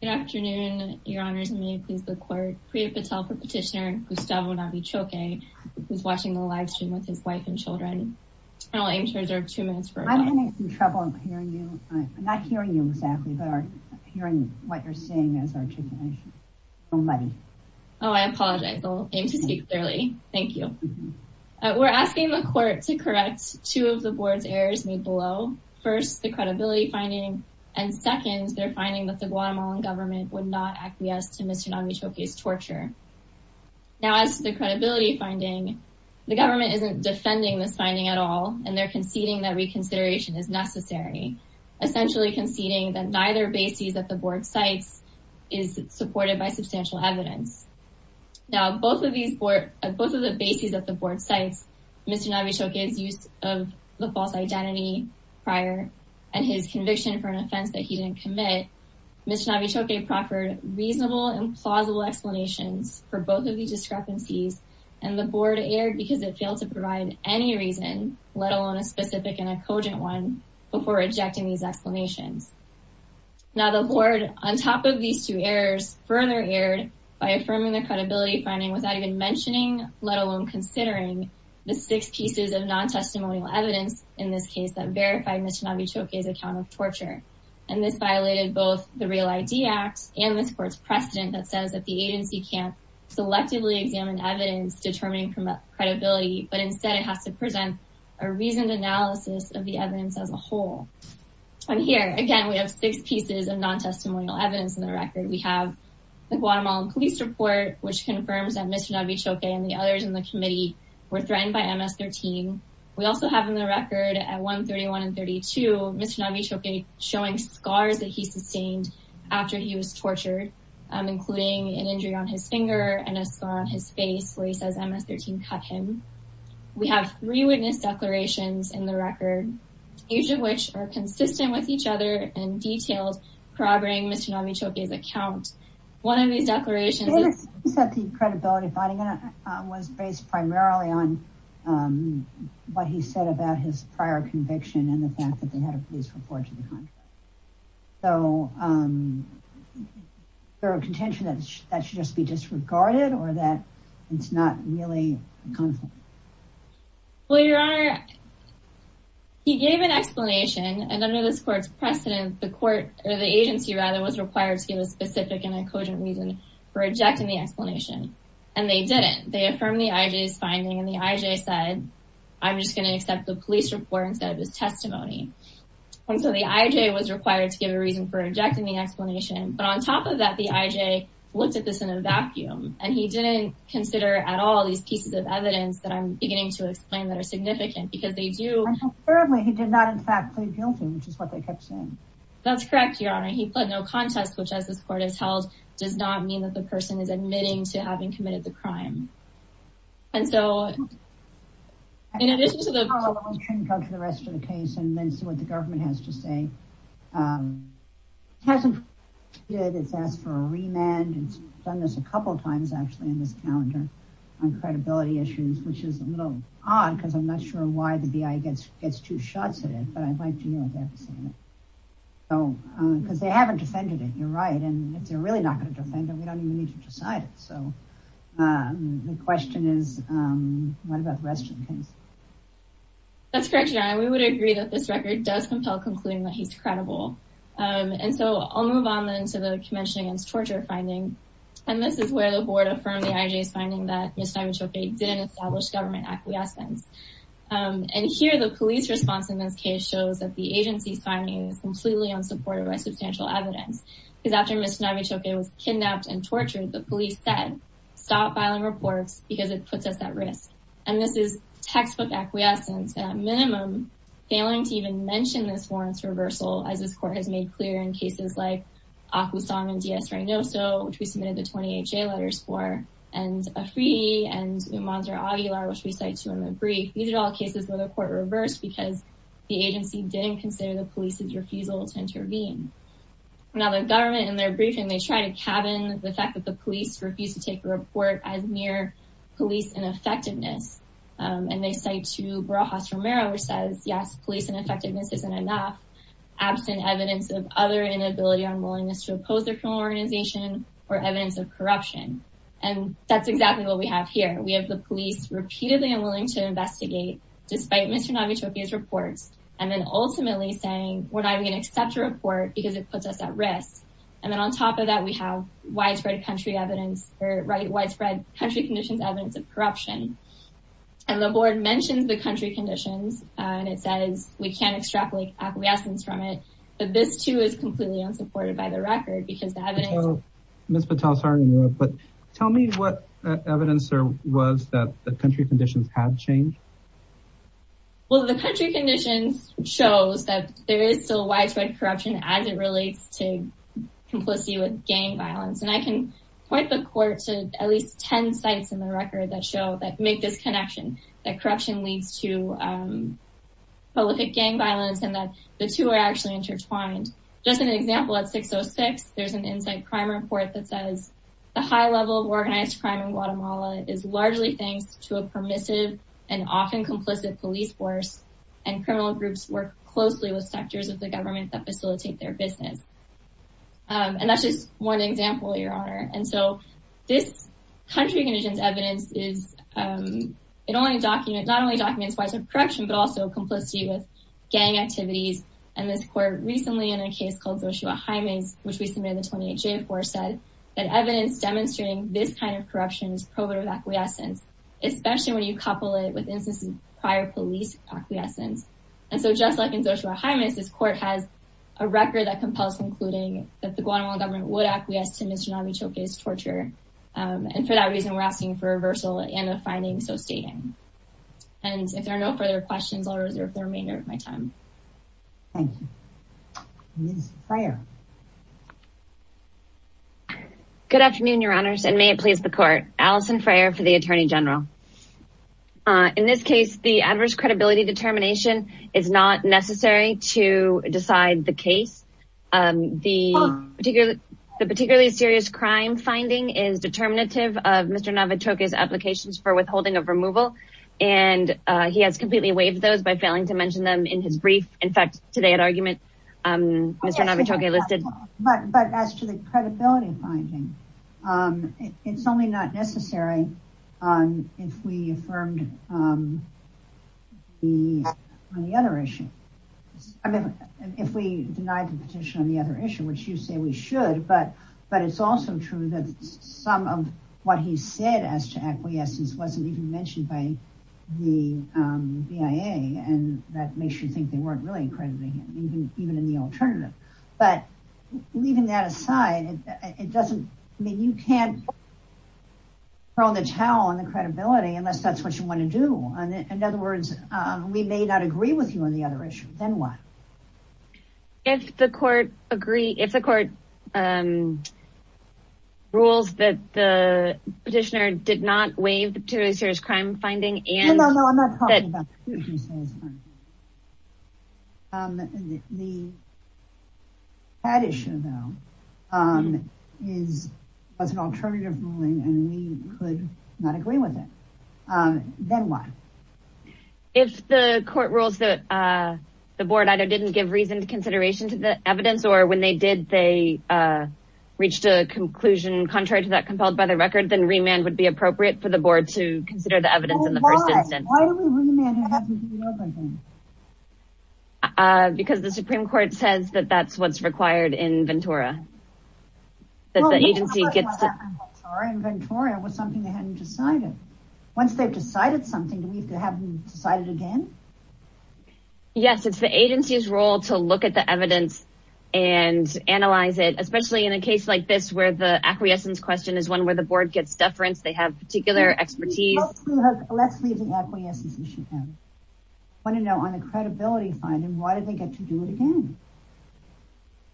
Good afternoon your honors and may it please the court. Priya Patel for petitioner Gustavo Navichoque who's watching the live stream with his wife and children. I'll aim to reserve two minutes for her. I'm having some trouble hearing you. I'm not hearing you exactly but I'm hearing what you're saying as articulation. Nobody. Oh I apologize. I'll aim to speak clearly. Thank you. We're asking the court to correct two of the board's errors made below. First the credibility finding and second they're finding that the Guatemalan government would not acquiesce to Mr. Navichoque's torture. Now as the credibility finding the government isn't defending this finding at all and they're conceding that reconsideration is necessary. Essentially conceding that neither basis that the board cites is supported by substantial evidence. Now both of these both of the bases that the board cites Mr. Navichoque's use of the false identity prior and his conviction for an offense that he didn't commit. Mr. Navichoque proffered reasonable and plausible explanations for both of these discrepancies and the board erred because it failed to provide any reason let alone a specific and a cogent one before rejecting these explanations. Now the board on top of these two errors further erred by affirming the credibility finding without even mentioning let alone considering the six pieces of non-testimonial evidence in this case that verified Mr. Navichoque's account of torture and this violated both the Real ID Act and this court's precedent that says that the agency can't selectively examine evidence determining credibility but instead it has to present a reasoned analysis of the evidence as a whole. And here again we have six pieces of non-testimonial evidence in the record. We have the Guatemalan police report which confirms that Mr. Navichoque and the others in the committee were threatened by MS-13. We also have in the record at 1 31 and 32 Mr. Navichoque showing scars that he sustained after he was tortured including an injury on his finger and a scar on his face where he says MS-13 cut him. We have three witness declarations in the record each of which are consistent with each other and detailed corroborating Mr. Navichoque's account. One of on um what he said about his prior conviction and the fact that they had a police report to the contrary so um there are contention that that should just be disregarded or that it's not really well your honor he gave an explanation and under this court's precedent the court or the agency rather was required to give a specific and a cogent reason for rejecting the explanation and they didn't they affirmed the ij's finding and the ij said i'm just going to accept the police report instead of his testimony and so the ij was required to give a reason for rejecting the explanation but on top of that the ij looked at this in a vacuum and he didn't consider at all these pieces of evidence that i'm beginning to explain that are significant because they do and thirdly he did not in fact plead guilty which is what they kept saying that's correct your honor he fled no contest which as this court has held does not mean that the person is admitting to having committed the crime and so in addition to the rest of the case and then see what the government has to say um hasn't it's asked for a remand it's done this a couple times actually in this calendar on credibility issues which is a little odd because i'm not sure why the bi gets gets two shots at it but i'd like to know what they have to say so because they haven't defended it you're right and if they're really not going to defend it we don't even need to decide it so um the question is um what about the rest of the case that's correct your honor we would agree that this record does compel concluding that he's credible um and so i'll move on then to the convention against torture finding and this is where the board affirmed the ij's finding that established government acquiescence um and here the police response in this case shows that the agency's finding is completely unsupported by substantial evidence because after miss navichok was kidnapped and tortured the police said stop filing reports because it puts us at risk and this is textbook acquiescence at minimum failing to even mention this warrants reversal as this court has made clear in cases like aqua song and ds right now so which we submitted the 20ha letters for and a free and umans or aguilar which we cite to in the brief these are all cases where the court reversed because the agency didn't consider the police's refusal to intervene now the government in their briefing they try to cabin the fact that the police refuse to take a report as mere police ineffectiveness um and they cite to brajas romero which says yes police ineffectiveness isn't enough absent evidence of other inability or unwillingness to oppose criminal organization or evidence of corruption and that's exactly what we have here we have the police repeatedly unwilling to investigate despite mr navichokia's reports and then ultimately saying we're not going to accept a report because it puts us at risk and then on top of that we have widespread country evidence or right widespread country conditions evidence of corruption and the board mentions the country conditions and it says we can't miss patel sorry but tell me what evidence there was that the country conditions have changed well the country conditions shows that there is still widespread corruption as it relates to complicity with gang violence and i can point the court to at least 10 sites in the record that show that make this connection that corruption leads to um public gang violence and that the two are actually intertwined just an example at 606 there's an insight crime report that says the high level of organized crime in guatemala is largely thanks to a permissive and often complicit police force and criminal groups work closely with sectors of the government that facilitate their business and that's just one example your honor and so this country conditions evidence is it only document not only documents widespread corruption but also complicity with gang activities and this court recently in a case called zoshua jimenez which we submitted the 28 j4 said that evidence demonstrating this kind of corruption is probative acquiescence especially when you couple it with instances prior police acquiescence and so just like in zoshua jimenez this court has a record that compels including that the guatemalan government would acquiesce to mr navichoke's torture um and for that reason we're asking for a reversal and a finding so and if there are no further questions i'll reserve the remainder of my time thank you good afternoon your honors and may it please the court allison frayer for the attorney general uh in this case the adverse credibility determination is not necessary to decide the case um the particularly the particularly serious crime finding is determinative of applications for withholding of removal and uh he has completely waived those by failing to mention them in his brief in fact today at argument um listed but but as to the credibility finding um it's only not necessary on if we affirmed um the on the other issue i mean if we denied the petition on the other issue which you say we should but but it's also true that some of what he said as to acquiescence wasn't even mentioned by the um bia and that makes you think they weren't really accrediting him even even in the alternative but leaving that aside it doesn't i mean you can't throw the towel on the credibility unless that's what you want to do and in other words uh we may not agree with you on the other issue then why if the court agree if the court um rules that the petitioner did not waive the particularly serious crime finding and no no i'm not talking about the issue though um is was an alternative ruling and we could not agree with it um then why if the court rules that uh the board either didn't give reason to consideration to the evidence or when they did they uh reached a conclusion contrary to that compelled by the record then remand would be appropriate for the board to consider the evidence in the first instance uh because the supreme court says that that's what's required in ventura that the agency gets inventory it was something they hadn't decided once they've decided something we could have decided again yes it's the agency's role to look at the evidence and analyze it especially in a case like this where the acquiescence question is one where the board gets deference they have particular expertise let's leave the acquiescence issue want to know on the credibility finding why did they get to do it again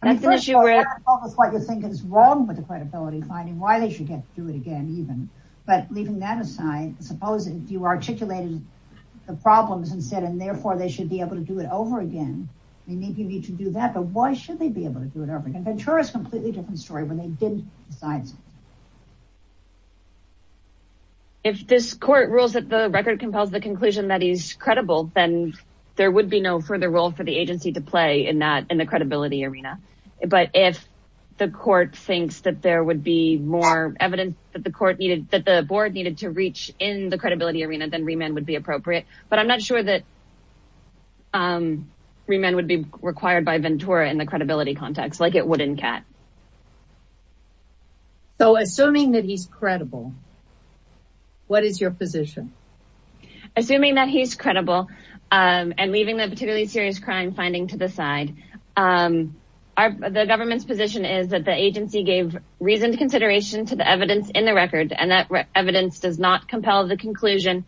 that's an issue with what you're thinking is wrong with the credibility finding why they get to do it again even but leaving that aside suppose if you articulated the problems and said and therefore they should be able to do it over again they need you need to do that but why should they be able to do it over again ventura is completely different story when they didn't decide if this court rules that the record compels the conclusion that he's credible then there would be no further role for the agency to play in that in the credibility arena but if the court thinks that there would be more evidence that the court needed that the board needed to reach in the credibility arena then remand would be appropriate but i'm not sure that um remand would be required by ventura in the credibility context like it would in cat so assuming that he's credible what is your position assuming that he's credible um and leaving the particularly serious crime finding to the side um our the government's position is that the agency gave reasoned consideration to the evidence in the record and that evidence does not compel the conclusion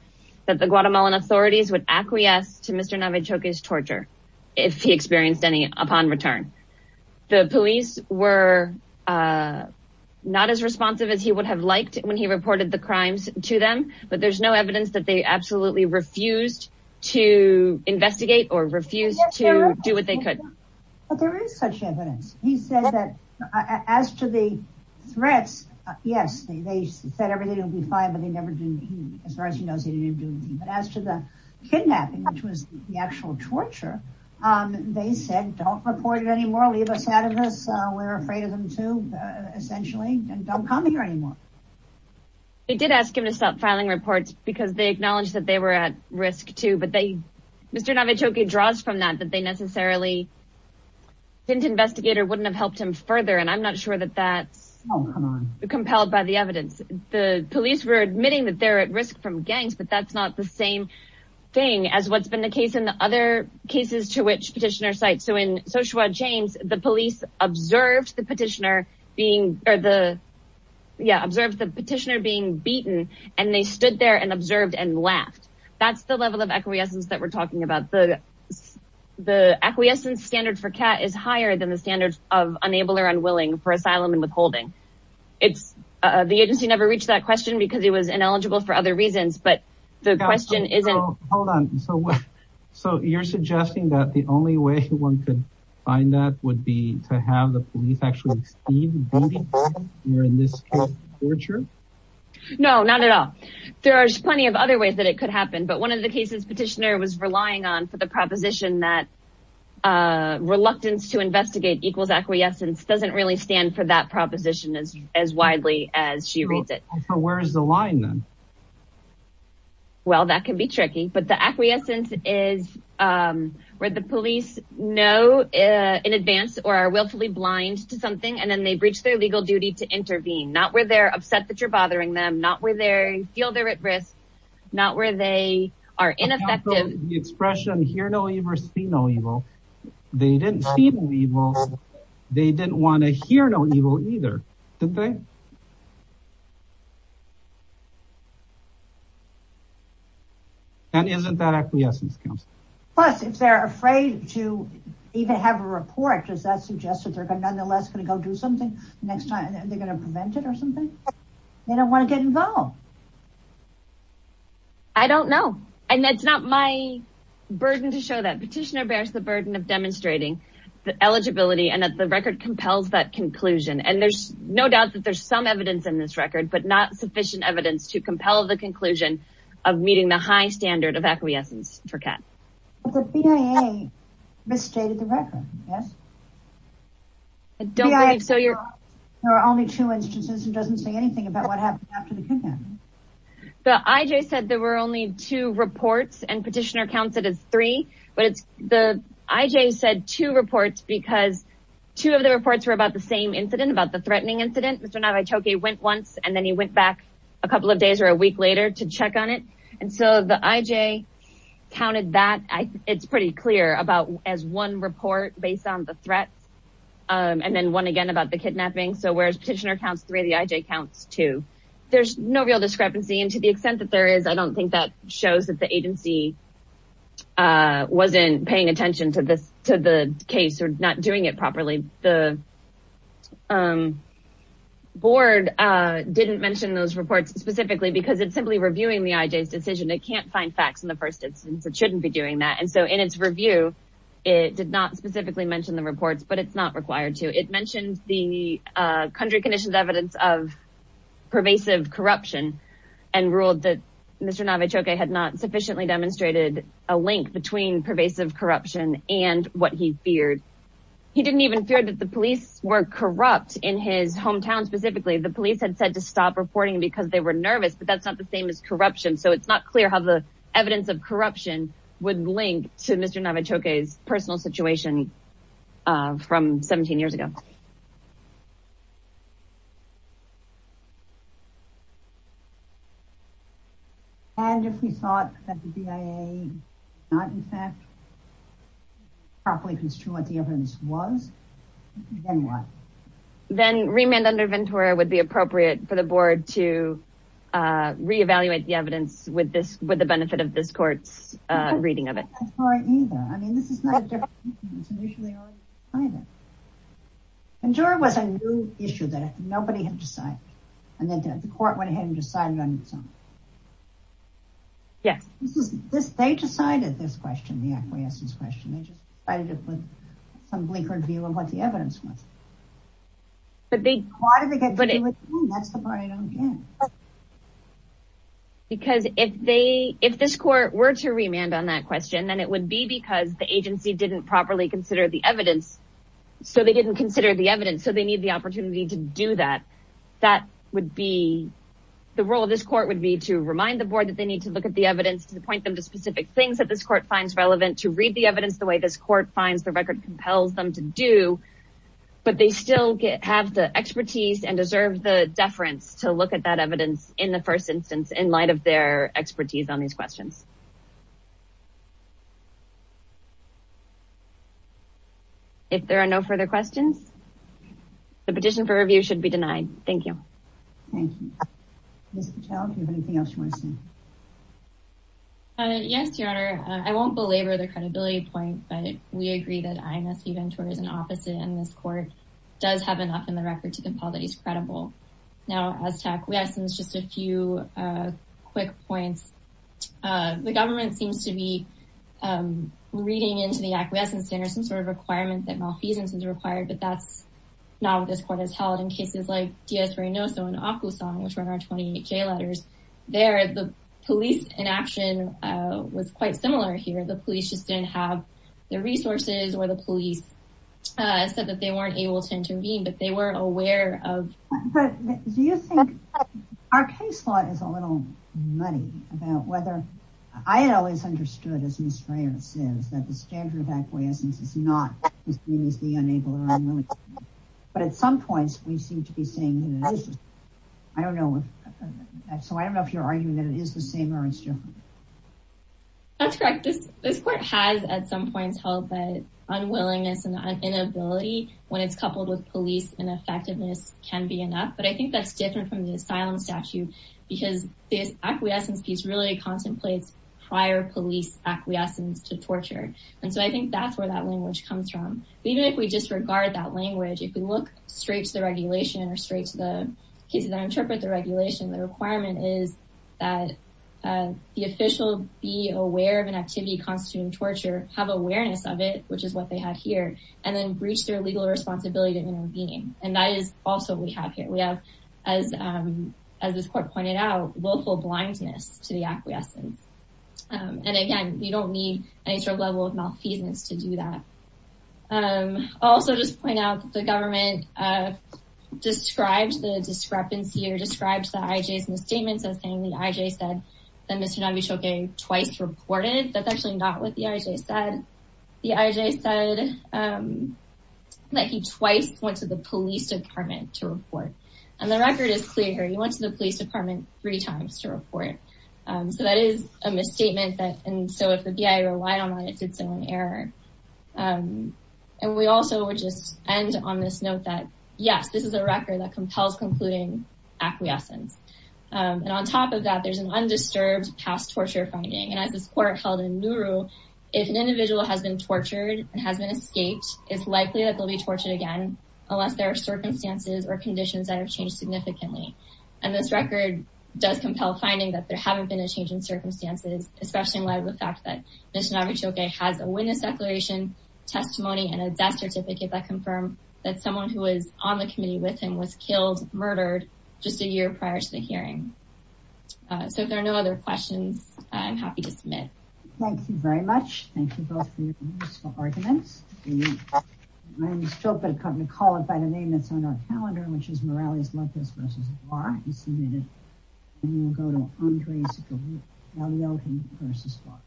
that the guatemalan authorities would acquiesce to mr navichoke's torture if he experienced any upon return the police were uh not as responsive as he would have liked when he reported the crimes to them but there's no evidence that they absolutely refused to investigate or refuse to do what they could but there is such evidence he said that as to the threats yes they said everything would be fine but they never did as far as he knows he didn't do anything but as to the kidnapping which was the actual torture um they said don't report it anymore leave us out of this uh we're afraid of them too essentially and don't come here anymore they did ask him to stop filing reports because they acknowledged that they were at risk too but they mr navichoke draws from that that they necessarily didn't investigator wouldn't have helped him further and i'm not sure that that's compelled by the evidence the police were admitting that they're at risk from gangs but that's not the same thing as what's been the case in the other cases to which petitioner sites so in soshua james the police observed the petitioner being or the yeah observed the that's the level of acquiescence that we're talking about the the acquiescence standard for cat is higher than the standards of unable or unwilling for asylum and withholding it's uh the agency never reached that question because it was ineligible for other reasons but the question isn't hold on so what so you're suggesting that the only way one could find that would be to have the police actually be in this torture no not at all there are plenty of other ways that it could happen but one of the cases petitioner was relying on for the proposition that uh reluctance to investigate equals acquiescence doesn't really stand for that proposition as as widely as she reads it so where is the line then well that can be tricky but the acquiescence is um where the police know uh in advance or are willfully blind to something and then they breach their legal duty to intervene not where they're upset that you're bothering them not where they feel they're at risk not where they are ineffective the expression hear no evil see no evil they didn't see the evil they didn't want to hear no evil either didn't they and isn't that acquiescence comes plus if they're afraid to even have a report does that suggest that they're going nonetheless going to go do something next time they're going to prevent something they don't want to get involved i don't know and that's not my burden to show that petitioner bears the burden of demonstrating the eligibility and that the record compels that conclusion and there's no doubt that there's some evidence in this record but not sufficient evidence to compel the conclusion of meeting the high standard of acquiescence for cat the bia misstated the record yes don't believe so you're there are only two instances who doesn't say anything about what happened after the kidnapping the ij said there were only two reports and petitioner counts it as three but it's the ij said two reports because two of the reports were about the same incident about the threatening incident mr navichoke went once and then he went back a couple of days or a week later to check on it and so the ij counted that i it's pretty clear about as one report based on the threats um and then one again about the kidnapping so whereas petitioner counts three the ij counts two there's no real discrepancy and to the extent that there is i don't think that shows that the agency uh wasn't paying attention to this to the case or not doing it properly the um board uh didn't mention those reports specifically because it's simply reviewing the ij's decision it can't find facts in the first instance it shouldn't be doing that and so in its review it did not specifically mention the reports but it's not required to it mentioned the uh country conditions evidence of pervasive corruption and ruled that mr navichoke had not sufficiently demonstrated a link between pervasive corruption and what he feared he didn't even fear that the police were corrupt in his hometown specifically the police had said to stop reporting because they were nervous but that's not the same as corruption so it's not clear how the mr navichoke's personal situation uh from 17 years ago and if we thought that the bia not in fact properly construed what the evidence was then remand under ventura would be appropriate for the board to uh reevaluate the evidence with this with the benefit of this court's uh reading of it either i mean this is not a different issue initially ventura was a new issue that nobody had decided and then the court went ahead and decided on its own yeah this is this they decided this question the acquiescence question they just decided it with some bleak review of what the evidence was but they wanted to get that's the part i don't get it because if they if this court were to remand on that question then it would be because the agency didn't properly consider the evidence so they didn't consider the evidence so they need the opportunity to do that that would be the role of this court would be to remind the board that they need to look at the evidence to point them to specific things that this court finds relevant to read the evidence the way this court finds the record compels them to do but they still have the expertise and deserve the deference to look at that evidence in the first instance in light of their expertise on these questions if there are no further questions the petition for review should be denied thank you thank you miss patel if you have anything else you want to say uh yes your honor i won't belabor the enough in the record to compel that he's credible now as tech we have since just a few quick points uh the government seems to be um reading into the acquiescence center some sort of requirement that malfeasance is required but that's not what this court has held in cases like ds no so in aku song which were our 28k letters there the police inaction uh was quite similar here the police just didn't have their resources or the police uh said that they weren't able to intervene but they weren't aware of but do you think our case law is a little muddy about whether i had always understood as misdreavus is that the standard of acquiescence is not as mean as the unable or unwilling but at some points we seem to be saying that it is i don't know if so i don't know if you're arguing that it is the same or it's different that's correct this court has at some points held that unwillingness and inability when it's coupled with police and effectiveness can be enough but i think that's different from the asylum statute because this acquiescence piece really contemplates prior police acquiescence to torture and so i think that's where that language comes from even if we disregard that language if we look straight to the regulation or straight to the cases that interpret the regulation the requirement is that the official be aware of an activity constituting torture have awareness of it which is what they have here and then breach their legal responsibility to intervene and that is also we have here we have as um as this court pointed out willful blindness to the acquiescence and again you don't need any sort of level of malfeasance to do that um also just point out that the government uh describes the discrepancy or describes the ij's misstatements as saying the said um that he twice went to the police department to report and the record is clear he went to the police department three times to report um so that is a misstatement that and so if the bia relied on that it's its own error um and we also would just end on this note that yes this is a record that compels concluding acquiescence and on top of that there's an undisturbed past has been escaped it's likely that they'll be tortured again unless there are circumstances or conditions that have changed significantly and this record does compel finding that there haven't been a change in circumstances especially in light of the fact that mr navichoke has a witness declaration testimony and a death certificate that confirm that someone who was on the committee with him was killed murdered just a year prior to the hearing so if there are no other questions i'm happy to submit thank you very much thank you both arguments i'm still going to call it by the name that's on our calendar which is morale is like this versus bar you submitted and you'll go to andre's versus bar